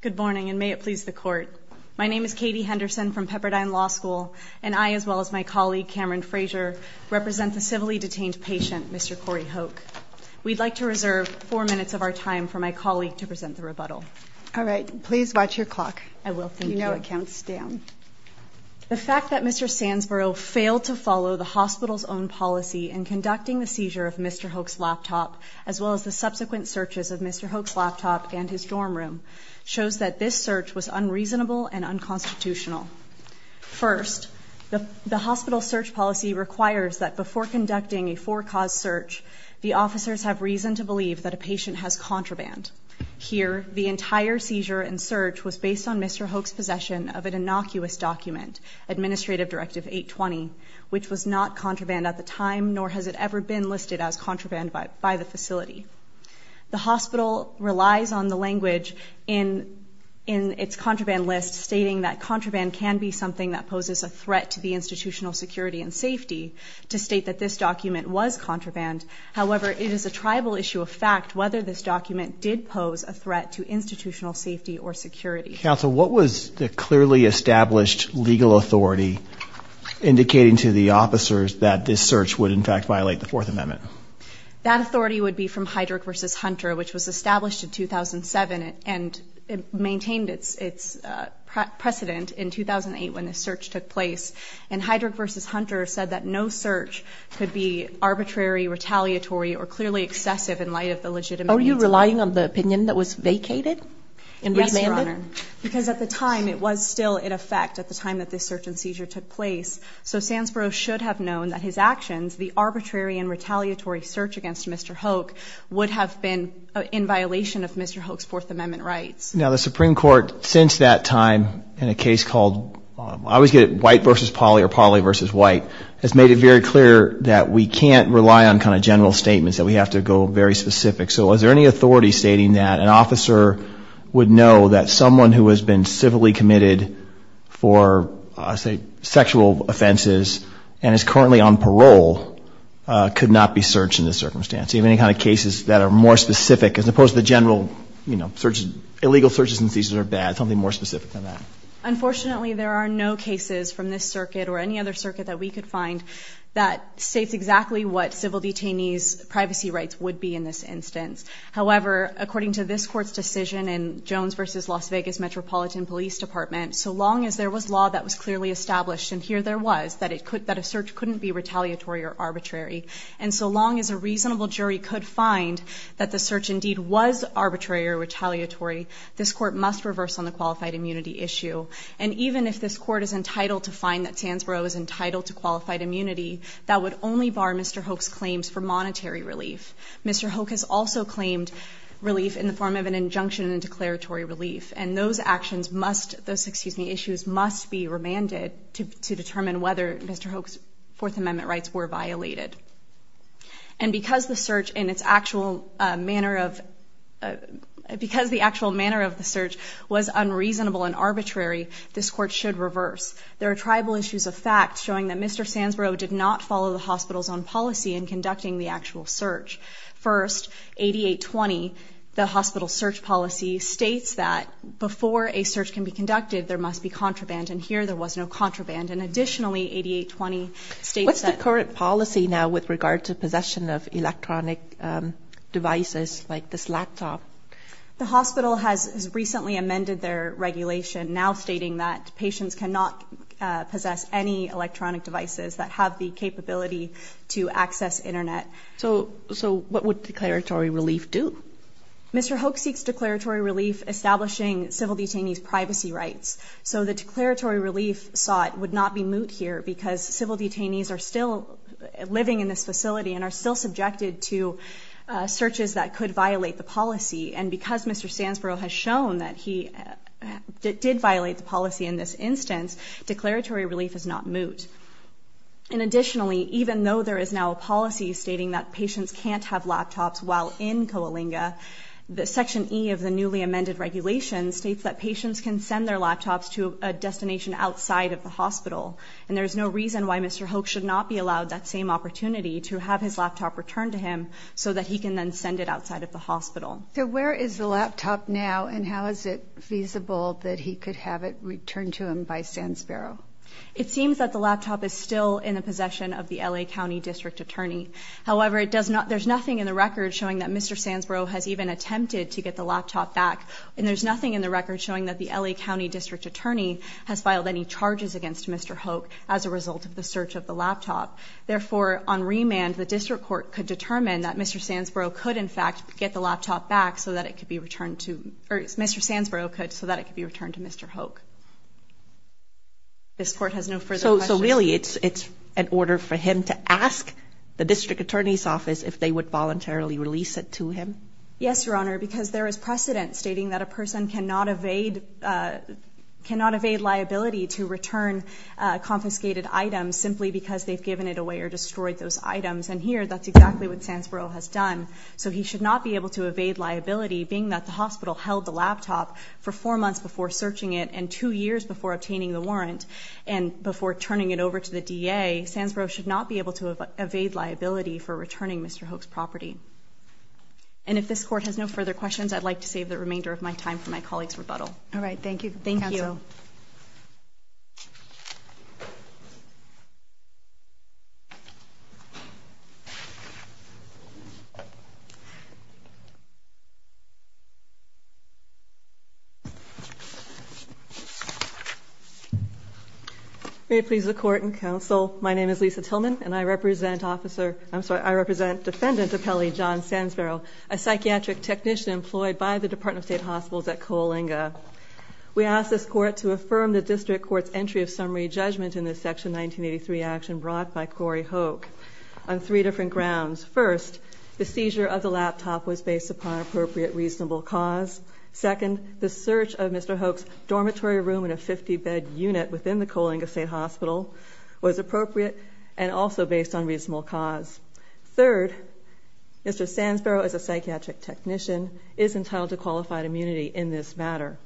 Good morning, and may it please the Court. My name is Katie Henderson from Pepperdine Law School, and I, as well as my colleague Cameron Frazier, represent the civilly detained patient, Mr. Corey Hoch. We'd like to reserve four minutes of our time for my colleague to present the rebuttal. All right. Please watch your clock. I will. Thank you. You know it counts down. The fact that Mr. Sanzberro failed to follow the hospital's own policy in conducting the seizure of Mr. Hoch's laptop, as well as the subsequent searches of Mr. Hoch's laptop and his dorm room, shows that this search was unreasonable and unconstitutional. First, the hospital's search policy requires that before conducting a four-cause search, the officers have reason to believe that a patient has contraband. Here, the entire seizure and search was based on Mr. Hoch's possession of an innocuous document, Administrative Directive 820, which was not contraband at the time, nor has it ever been listed as contraband by the facility. The hospital relies on the language in its contraband list, stating that contraband can be something that poses a threat to the institutional security and safety, to state that this document was contraband. However, it is a tribal issue of fact whether this document did pose a threat to institutional safety or security. Counsel, what was the clearly established legal authority indicating to the officers that this search would, in fact, violate the Fourth Amendment? That authority would be from Heydrich v. Hunter, which was established in 2007 and maintained its precedent in 2008 when this search took place. And Heydrich v. Hunter said that no search could be arbitrary, retaliatory, or clearly excessive in light of the legitimate means of it. Are you relying on the opinion that was vacated and remanded? Because at the time, it was still in effect at the time that this search and seizure took place. So Sandsboro should have known that his actions, the arbitrary and retaliatory search against Mr. Hoke, would have been in violation of Mr. Hoke's Fourth Amendment rights. Now, the Supreme Court, since that time, in a case called, I always get it, White v. Pauley or Pauley v. White, has made it very clear that we can't rely on kind of general statements, that we have to go very specific. So is there any authority stating that an officer would know that someone who has been civilly committed for, say, sexual offenses and is currently on parole could not be searched in this circumstance? Do you have any kind of cases that are more specific, as opposed to the general, you know, illegal searches and seizures are bad, something more specific than that? Unfortunately, there are no cases from this circuit or any other circuit that we could find that states exactly what civil detainees' privacy rights would be in this instance. However, according to this Court's decision in Jones v. Las Vegas Metropolitan Police Department, so long as there was law that was clearly established, and here there was, that a search couldn't be retaliatory or arbitrary, and so long as a reasonable jury could find that the search indeed was arbitrary or retaliatory, this Court must reverse on the qualified immunity issue. And even if this Court is entitled to find that Sandsboro is entitled to qualified immunity, that would only bar Mr. Hoek's claims for monetary relief. Mr. Hoek has also claimed relief in the form of an injunction and declaratory relief, and those actions must, those, excuse me, issues must be remanded to determine whether Mr. Hoek's Fourth Amendment rights were violated. And because the search in its actual manner of, because the actual manner of the search was unreasonable and arbitrary, this Court should reverse. There are tribal issues of fact showing that Mr. Sandsboro did not follow the hospital's own policy in conducting the actual search. First, 8820, the hospital's search policy, states that before a search can be conducted, there must be contraband, and here there was no contraband. And additionally, 8820 states that... with regard to possession of electronic devices like this laptop. The hospital has recently amended their regulation, now stating that patients cannot possess any electronic devices that have the capability to access Internet. So what would declaratory relief do? Mr. Hoek seeks declaratory relief establishing civil detainees' privacy rights. So the declaratory relief sought would not be moot here because civil detainees are still living in this facility and are still subjected to searches that could violate the policy. And because Mr. Sandsboro has shown that he did violate the policy in this instance, declaratory relief is not moot. And additionally, even though there is now a policy stating that patients can't have laptops while in Coalinga, Section E of the newly amended regulation states that patients can send their laptops to a destination outside of the hospital. And there is no reason why Mr. Hoek should not be allowed that same opportunity to have his laptop returned to him so that he can then send it outside of the hospital. So where is the laptop now, and how is it feasible that he could have it returned to him by Sandsboro? It seems that the laptop is still in the possession of the L.A. County District Attorney. However, there's nothing in the record showing that Mr. Sandsboro has even attempted to get the laptop back, and there's nothing in the record showing that the L.A. County District Attorney has filed any charges against Mr. Hoek as a result of the search of the laptop. Therefore, on remand, the District Court could determine that Mr. Sandsboro could in fact get the laptop back so that it could be returned to Mr. Hoek. This Court has no further questions. So really it's an order for him to ask the District Attorney's Office if they would voluntarily release it to him? Yes, Your Honor, because there is precedent stating that a person cannot evade liability to return confiscated items simply because they've given it away or destroyed those items, and here that's exactly what Sandsboro has done. So he should not be able to evade liability, being that the hospital held the laptop for four months before searching it and two years before obtaining the warrant and before turning it over to the D.A. Sandsboro should not be able to evade liability for returning Mr. Hoek's property. And if this Court has no further questions, I'd like to save the remainder of my time for my colleague's rebuttal. All right. Thank you, Counsel. Thank you. May it please the Court and Counsel, my name is Lisa Tillman, and I represent Defendant Apelli John Sandsboro, a psychiatric technician employed by the Department of State Hospitals at Coalinga. We ask this Court to affirm the District Court's entry of summary judgment in the Section 1983 action brought by Corey Hoek on three different grounds. First, the seizure of the laptop was based upon appropriate reasonable cause. Second, the search of Mr. Hoek's dormitory room in a 50-bed unit within the Coalinga State Hospital was appropriate and also based on reasonable cause. Third, Mr. Sandsboro, as a psychiatric technician, is entitled to qualified immunity in this matter.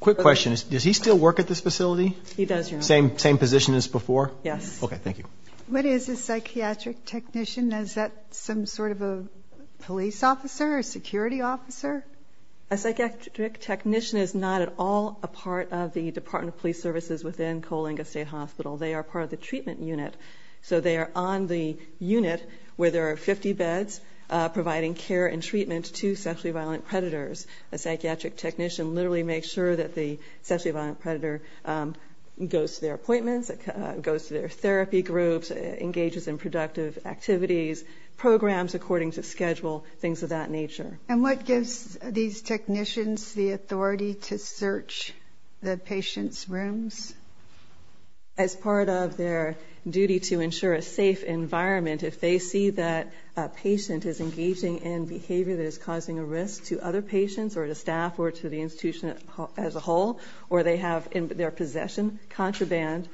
Quick question. Does he still work at this facility? He does, Your Honor. Same position as before? Yes. Okay. Thank you. What is a psychiatric technician? Is that some sort of a police officer, a security officer? A psychiatric technician is not at all a part of the Department of Police Services within Coalinga State Hospital. They are part of the treatment unit. So they are on the unit where there are 50 beds providing care and treatment to sexually violent predators. A psychiatric technician literally makes sure that the sexually violent predator goes to their appointments, goes to their therapy groups, engages in productive activities, programs according to schedule, things of that nature. And what gives these technicians the authority to search the patients' rooms? As part of their duty to ensure a safe environment, if they see that a patient is engaging in behavior that is causing a risk to other patients or to staff or to the institution as a whole, or they have in their possession contraband,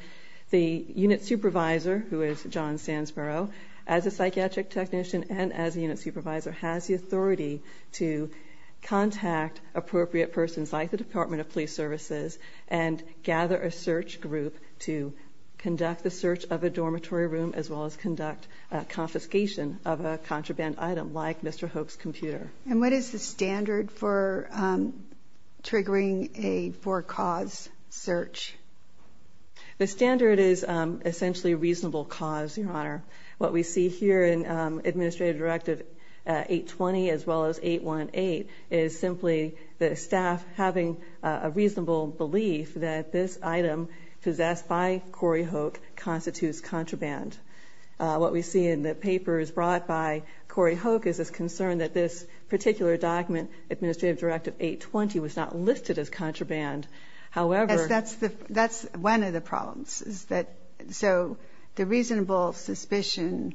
the unit supervisor, who is John Sandsboro, as a psychiatric technician and as a unit supervisor, has the authority to contact appropriate persons like the Department of Police Services and gather a search group to conduct the search of a dormitory room as well as conduct a confiscation of a contraband item like Mr. Hoek's computer. And what is the standard for triggering a for-cause search? The standard is essentially a reasonable cause, Your Honor. What we see here in Administrative Directive 820 as well as 818 is simply the staff having a reasonable belief that this item possessed by Corey Hoek constitutes contraband. What we see in the papers brought by Corey Hoek is this concern that this particular document, Administrative Directive 820, was not listed as contraband. That's one of the problems. So the reasonable suspicion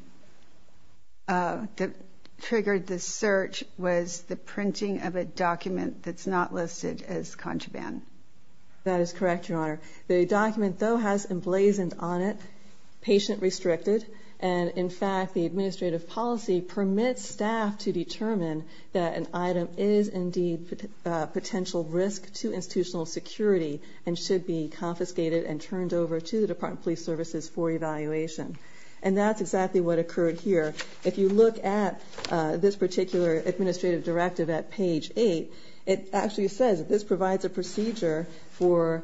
that triggered this search was the printing of a document that's not listed as contraband. That is correct, Your Honor. The document, though, has emblazoned on it patient-restricted, and in fact the administrative policy permits staff to determine that an item is indeed a potential risk to institutional security and should be confiscated and turned over to the Department of Police Services for evaluation. And that's exactly what occurred here. If you look at this particular Administrative Directive at page 8, it actually says that this provides a procedure for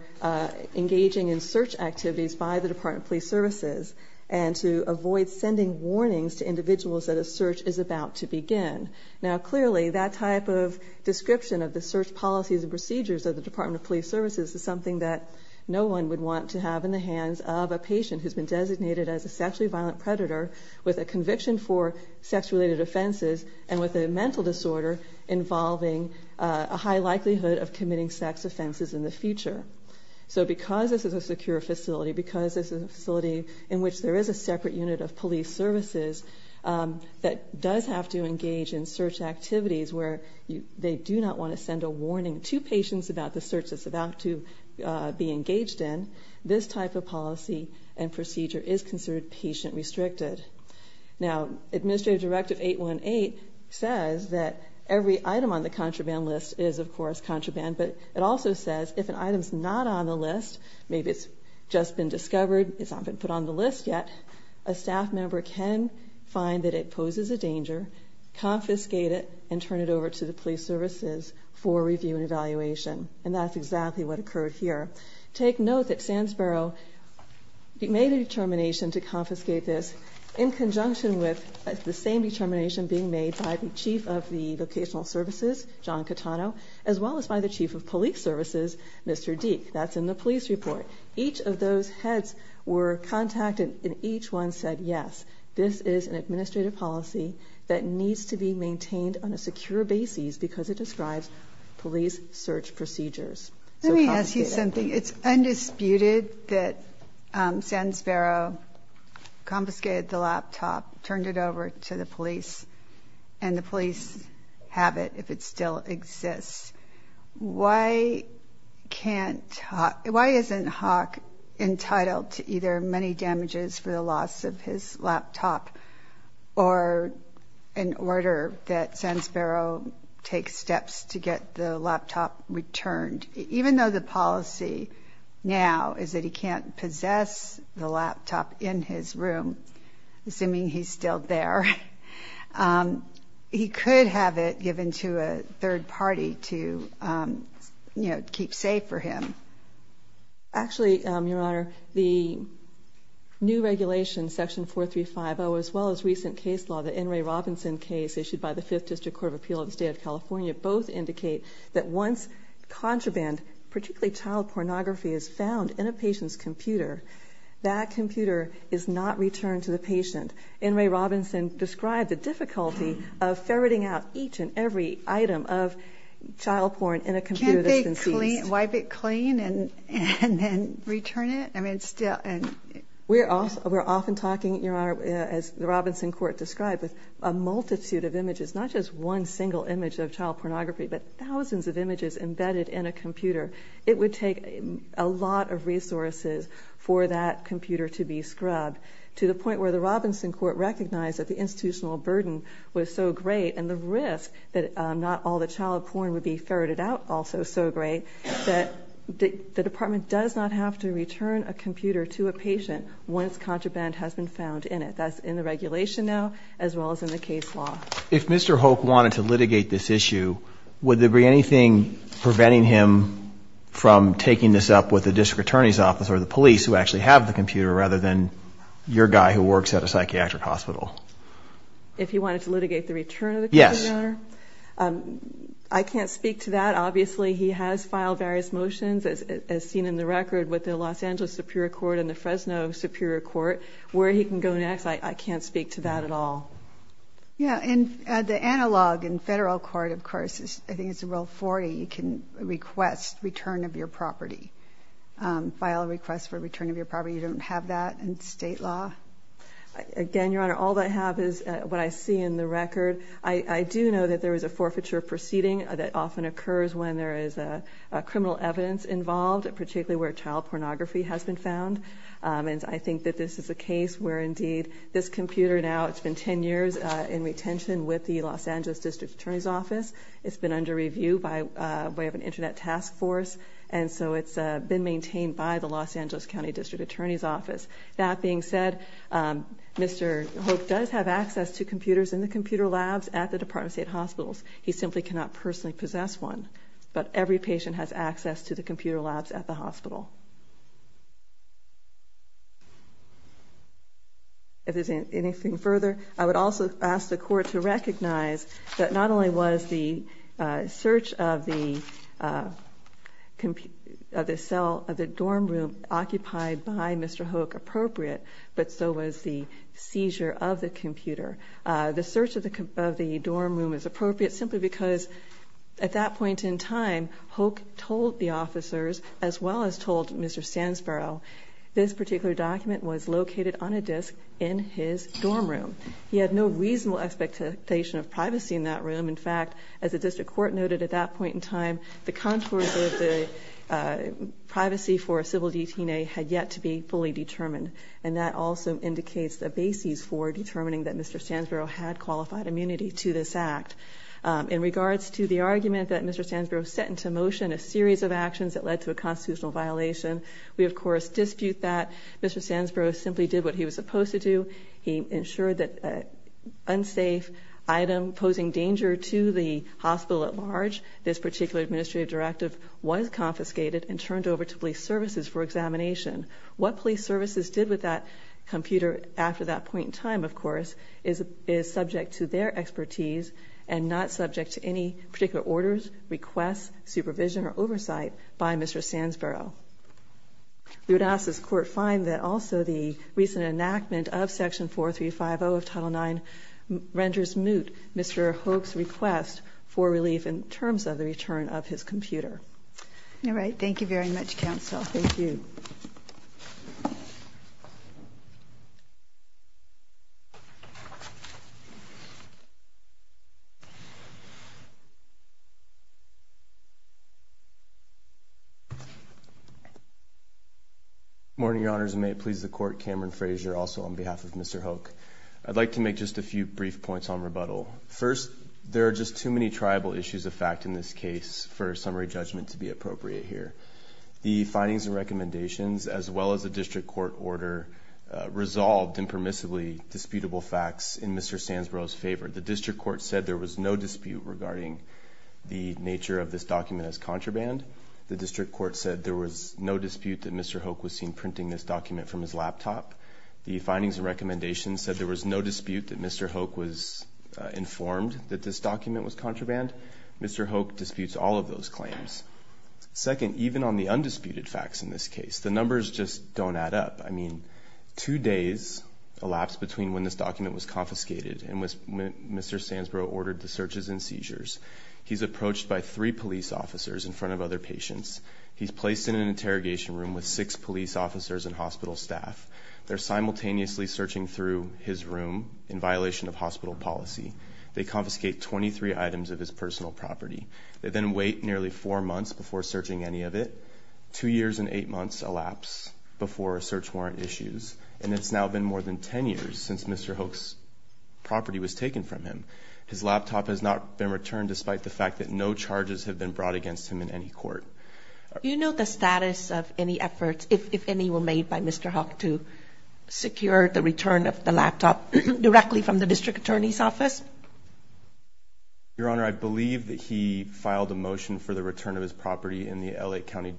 engaging in search activities by the Department of Police Services and to avoid sending warnings to individuals that a search is about to begin. Now, clearly, that type of description of the search policies and procedures of the Department of Police Services is something that no one would want to have in the hands of a patient who's been designated as a sexually violent predator with a conviction for sex-related offenses and with a mental disorder involving a high likelihood of committing sex offenses in the future. So because this is a secure facility, because this is a facility in which there is a separate unit of police services that does have to engage in search activities where they do not want to send a warning to patients about the search that's about to be engaged in, this type of policy and procedure is considered patient-restricted. Now, Administrative Directive 818 says that every item on the contraband list is, of course, contraband, but it also says if an item's not on the list, maybe it's just been discovered, it's not been put on the list yet, a staff member can find that it poses a danger, confiscate it, and turn it over to the police services for review and evaluation. And that's exactly what occurred here. Take note that Sandsboro made a determination to confiscate this in conjunction with the same determination being made by the Chief of the Vocational Services, John Catano, as well as by the Chief of Police Services, Mr. Deke. That's in the police report. Each of those heads were contacted, and each one said, yes, this is an administrative policy that needs to be maintained on a secure basis because it describes police search procedures. Let me ask you something. It's undisputed that Sandsboro confiscated the laptop, turned it over to the police, and the police have it if it still exists. Why isn't Hawk entitled to either money damages for the loss of his laptop or an order that Sandsboro take steps to get the laptop returned, even though the policy now is that he can't possess the laptop in his room, assuming he's still there? He could have it given to a third party to keep safe for him. Actually, Your Honor, the new regulation, Section 4350, as well as recent case law, the N. Ray Robinson case issued by the Fifth District Court of Appeal of the State of California, both indicate that once contraband, particularly child pornography, is found in a patient's computer, that computer is not returned to the patient. N. Ray Robinson described the difficulty of ferreting out each and every item of child porn in a computer that's been seized. Can't they wipe it clean and then return it? We're often talking, Your Honor, as the Robinson court described, with a multitude of images, not just one single image of child pornography, but thousands of images embedded in a computer. It would take a lot of resources for that computer to be scrubbed, to the point where the Robinson court recognized that the institutional burden was so great and the risk that not all the child porn would be ferreted out also so great, that the department does not have to return a computer to a patient once contraband has been found in it. That's in the regulation now, as well as in the case law. If Mr. Hoke wanted to litigate this issue, would there be anything preventing him from taking this up with the district attorney's office or the police who actually have the computer, rather than your guy who works at a psychiatric hospital? If he wanted to litigate the return of the computer, Your Honor? Yes. I can't speak to that. Obviously, he has filed various motions, as seen in the record, with the Los Angeles Superior Court and the Fresno Superior Court. Where he can go next, I can't speak to that at all. The analog in federal court, of course, I think it's Rule 40, you can request return of your property, file a request for return of your property. You don't have that in state law? Again, Your Honor, all I have is what I see in the record. I do know that there is a forfeiture proceeding that often occurs when there is criminal evidence involved, particularly where child pornography has been found. I think that this is a case where, indeed, this computer now, it's been 10 years in retention with the Los Angeles district attorney's office. It's been under review by way of an internet task force, and so it's been maintained by the Los Angeles county district attorney's office. That being said, Mr. Hope does have access to computers in the computer labs at the Department of State hospitals. He simply cannot personally possess one. But every patient has access to the computer labs at the hospital. If there's anything further, I would also ask the court to recognize that not only was the search of the cell of the dorm room occupied by Mr. Hope appropriate, but so was the seizure of the computer. The search of the dorm room is appropriate simply because at that point in time, Hope told the officers, as well as told Mr. Sandsboro, this particular document was located on a disk in his dorm room. He had no reasonable expectation of privacy in that room. In fact, as the district court noted at that point in time, the contours of the privacy for a civil detainee had yet to be fully determined, and that also indicates the basis for determining that Mr. Sandsboro had qualified immunity to this act. In regards to the argument that Mr. Sandsboro set into motion a series of actions that led to a constitutional violation, we, of course, dispute that. Mr. Sandsboro simply did what he was supposed to do. He ensured that an unsafe item posing danger to the hospital at large, this particular administrative directive, was confiscated and turned over to police services for examination. What police services did with that computer after that point in time, of course, is subject to their expertise and not subject to any particular orders, requests, supervision, or oversight by Mr. Sandsboro. We would ask this court find that also the recent enactment of Section 4350 of Title IX renders moot Mr. Hope's request for relief in terms of the return of his computer. All right. Thank you very much, counsel. Thank you. Good morning, Your Honors, and may it please the Court, Cameron Frazier, also on behalf of Mr. Hoke. I'd like to make just a few brief points on rebuttal. First, there are just too many tribal issues of fact in this case for a summary judgment to be appropriate here. The findings and recommendations, as well as the district court order, resolved impermissibly disputable facts in Mr. Sandsboro's favor. The district court said there was no dispute regarding the nature of this document as contraband. The district court said there was no dispute that Mr. Hoke was seen printing this document from his laptop. The findings and recommendations said there was no dispute that Mr. Hoke was informed that this document was contraband. Mr. Hoke disputes all of those claims. Second, even on the undisputed facts in this case, the numbers just don't add up. I mean, two days elapsed between when this document was confiscated and when Mr. Sandsboro ordered the searches and seizures. He's approached by three police officers in front of other patients. He's placed in an interrogation room with six police officers and hospital staff. They're simultaneously searching through his room in violation of hospital policy. They confiscate 23 items of his personal property. They then wait nearly four months before searching any of it. Two years and eight months elapse before search warrant issues. And it's now been more than 10 years since Mr. Hoke's property was taken from him. His laptop has not been returned despite the fact that no charges have been brought against him in any court. Do you know the status of any efforts, if any, were made by Mr. Hoke to secure the return of the laptop directly from the district attorney's office? Your Honor, I believe that he filed a motion for the return of his property in the L.A. County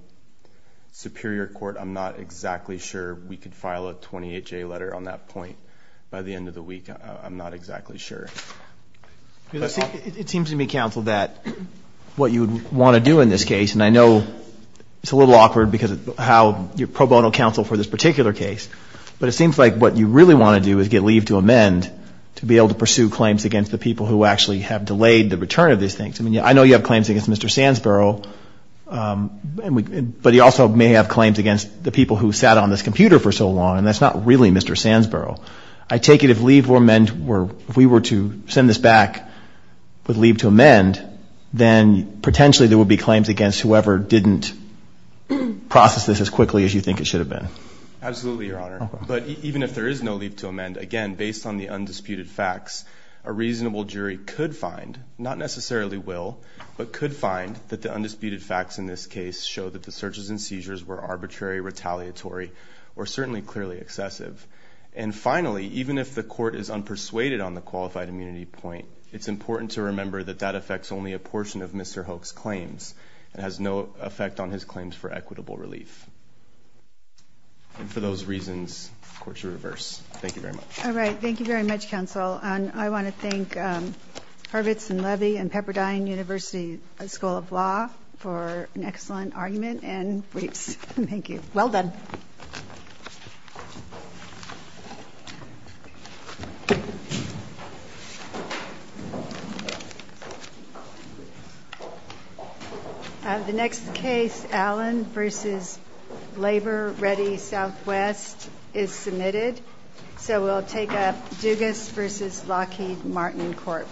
Superior Court. I'm not exactly sure we could file a 28-J letter on that point by the end of the week. I'm not exactly sure. It seems to me, counsel, that what you would want to do in this case, and I know it's a little awkward because of how you're pro bono counsel for this particular case, but it seems like what you really want to do is get leave to amend to be able to pursue claims against the people who actually have delayed the return of these things. I mean, I know you have claims against Mr. Sandsboro, but you also may have claims against the people who sat on this computer for so long, and that's not really Mr. Sandsboro. I take it if leave were meant, if we were to send this back with leave to amend, then potentially there would be claims against whoever didn't process this as quickly as you think it should have been. Absolutely, Your Honor. But even if there is no leave to amend, again, based on the undisputed facts, a reasonable jury could find, not necessarily will, but could find that the undisputed facts in this case show that the searches and seizures were arbitrary, retaliatory, or certainly clearly excessive. And finally, even if the court is unpersuaded on the qualified immunity point, it's important to remember that that affects only a portion of Mr. Hoek's claims. It has no effect on his claims for equitable relief. And for those reasons, the court should reverse. Thank you very much. All right. Thank you very much, counsel. And I want to thank Hurwitz and Levy and Pepperdine University School of Law for an excellent argument and briefs. Thank you. Well done. The next case, Allen v. Labor-Ready Southwest, is submitted. So we'll take up Dugas v. Lockheed Martin Court.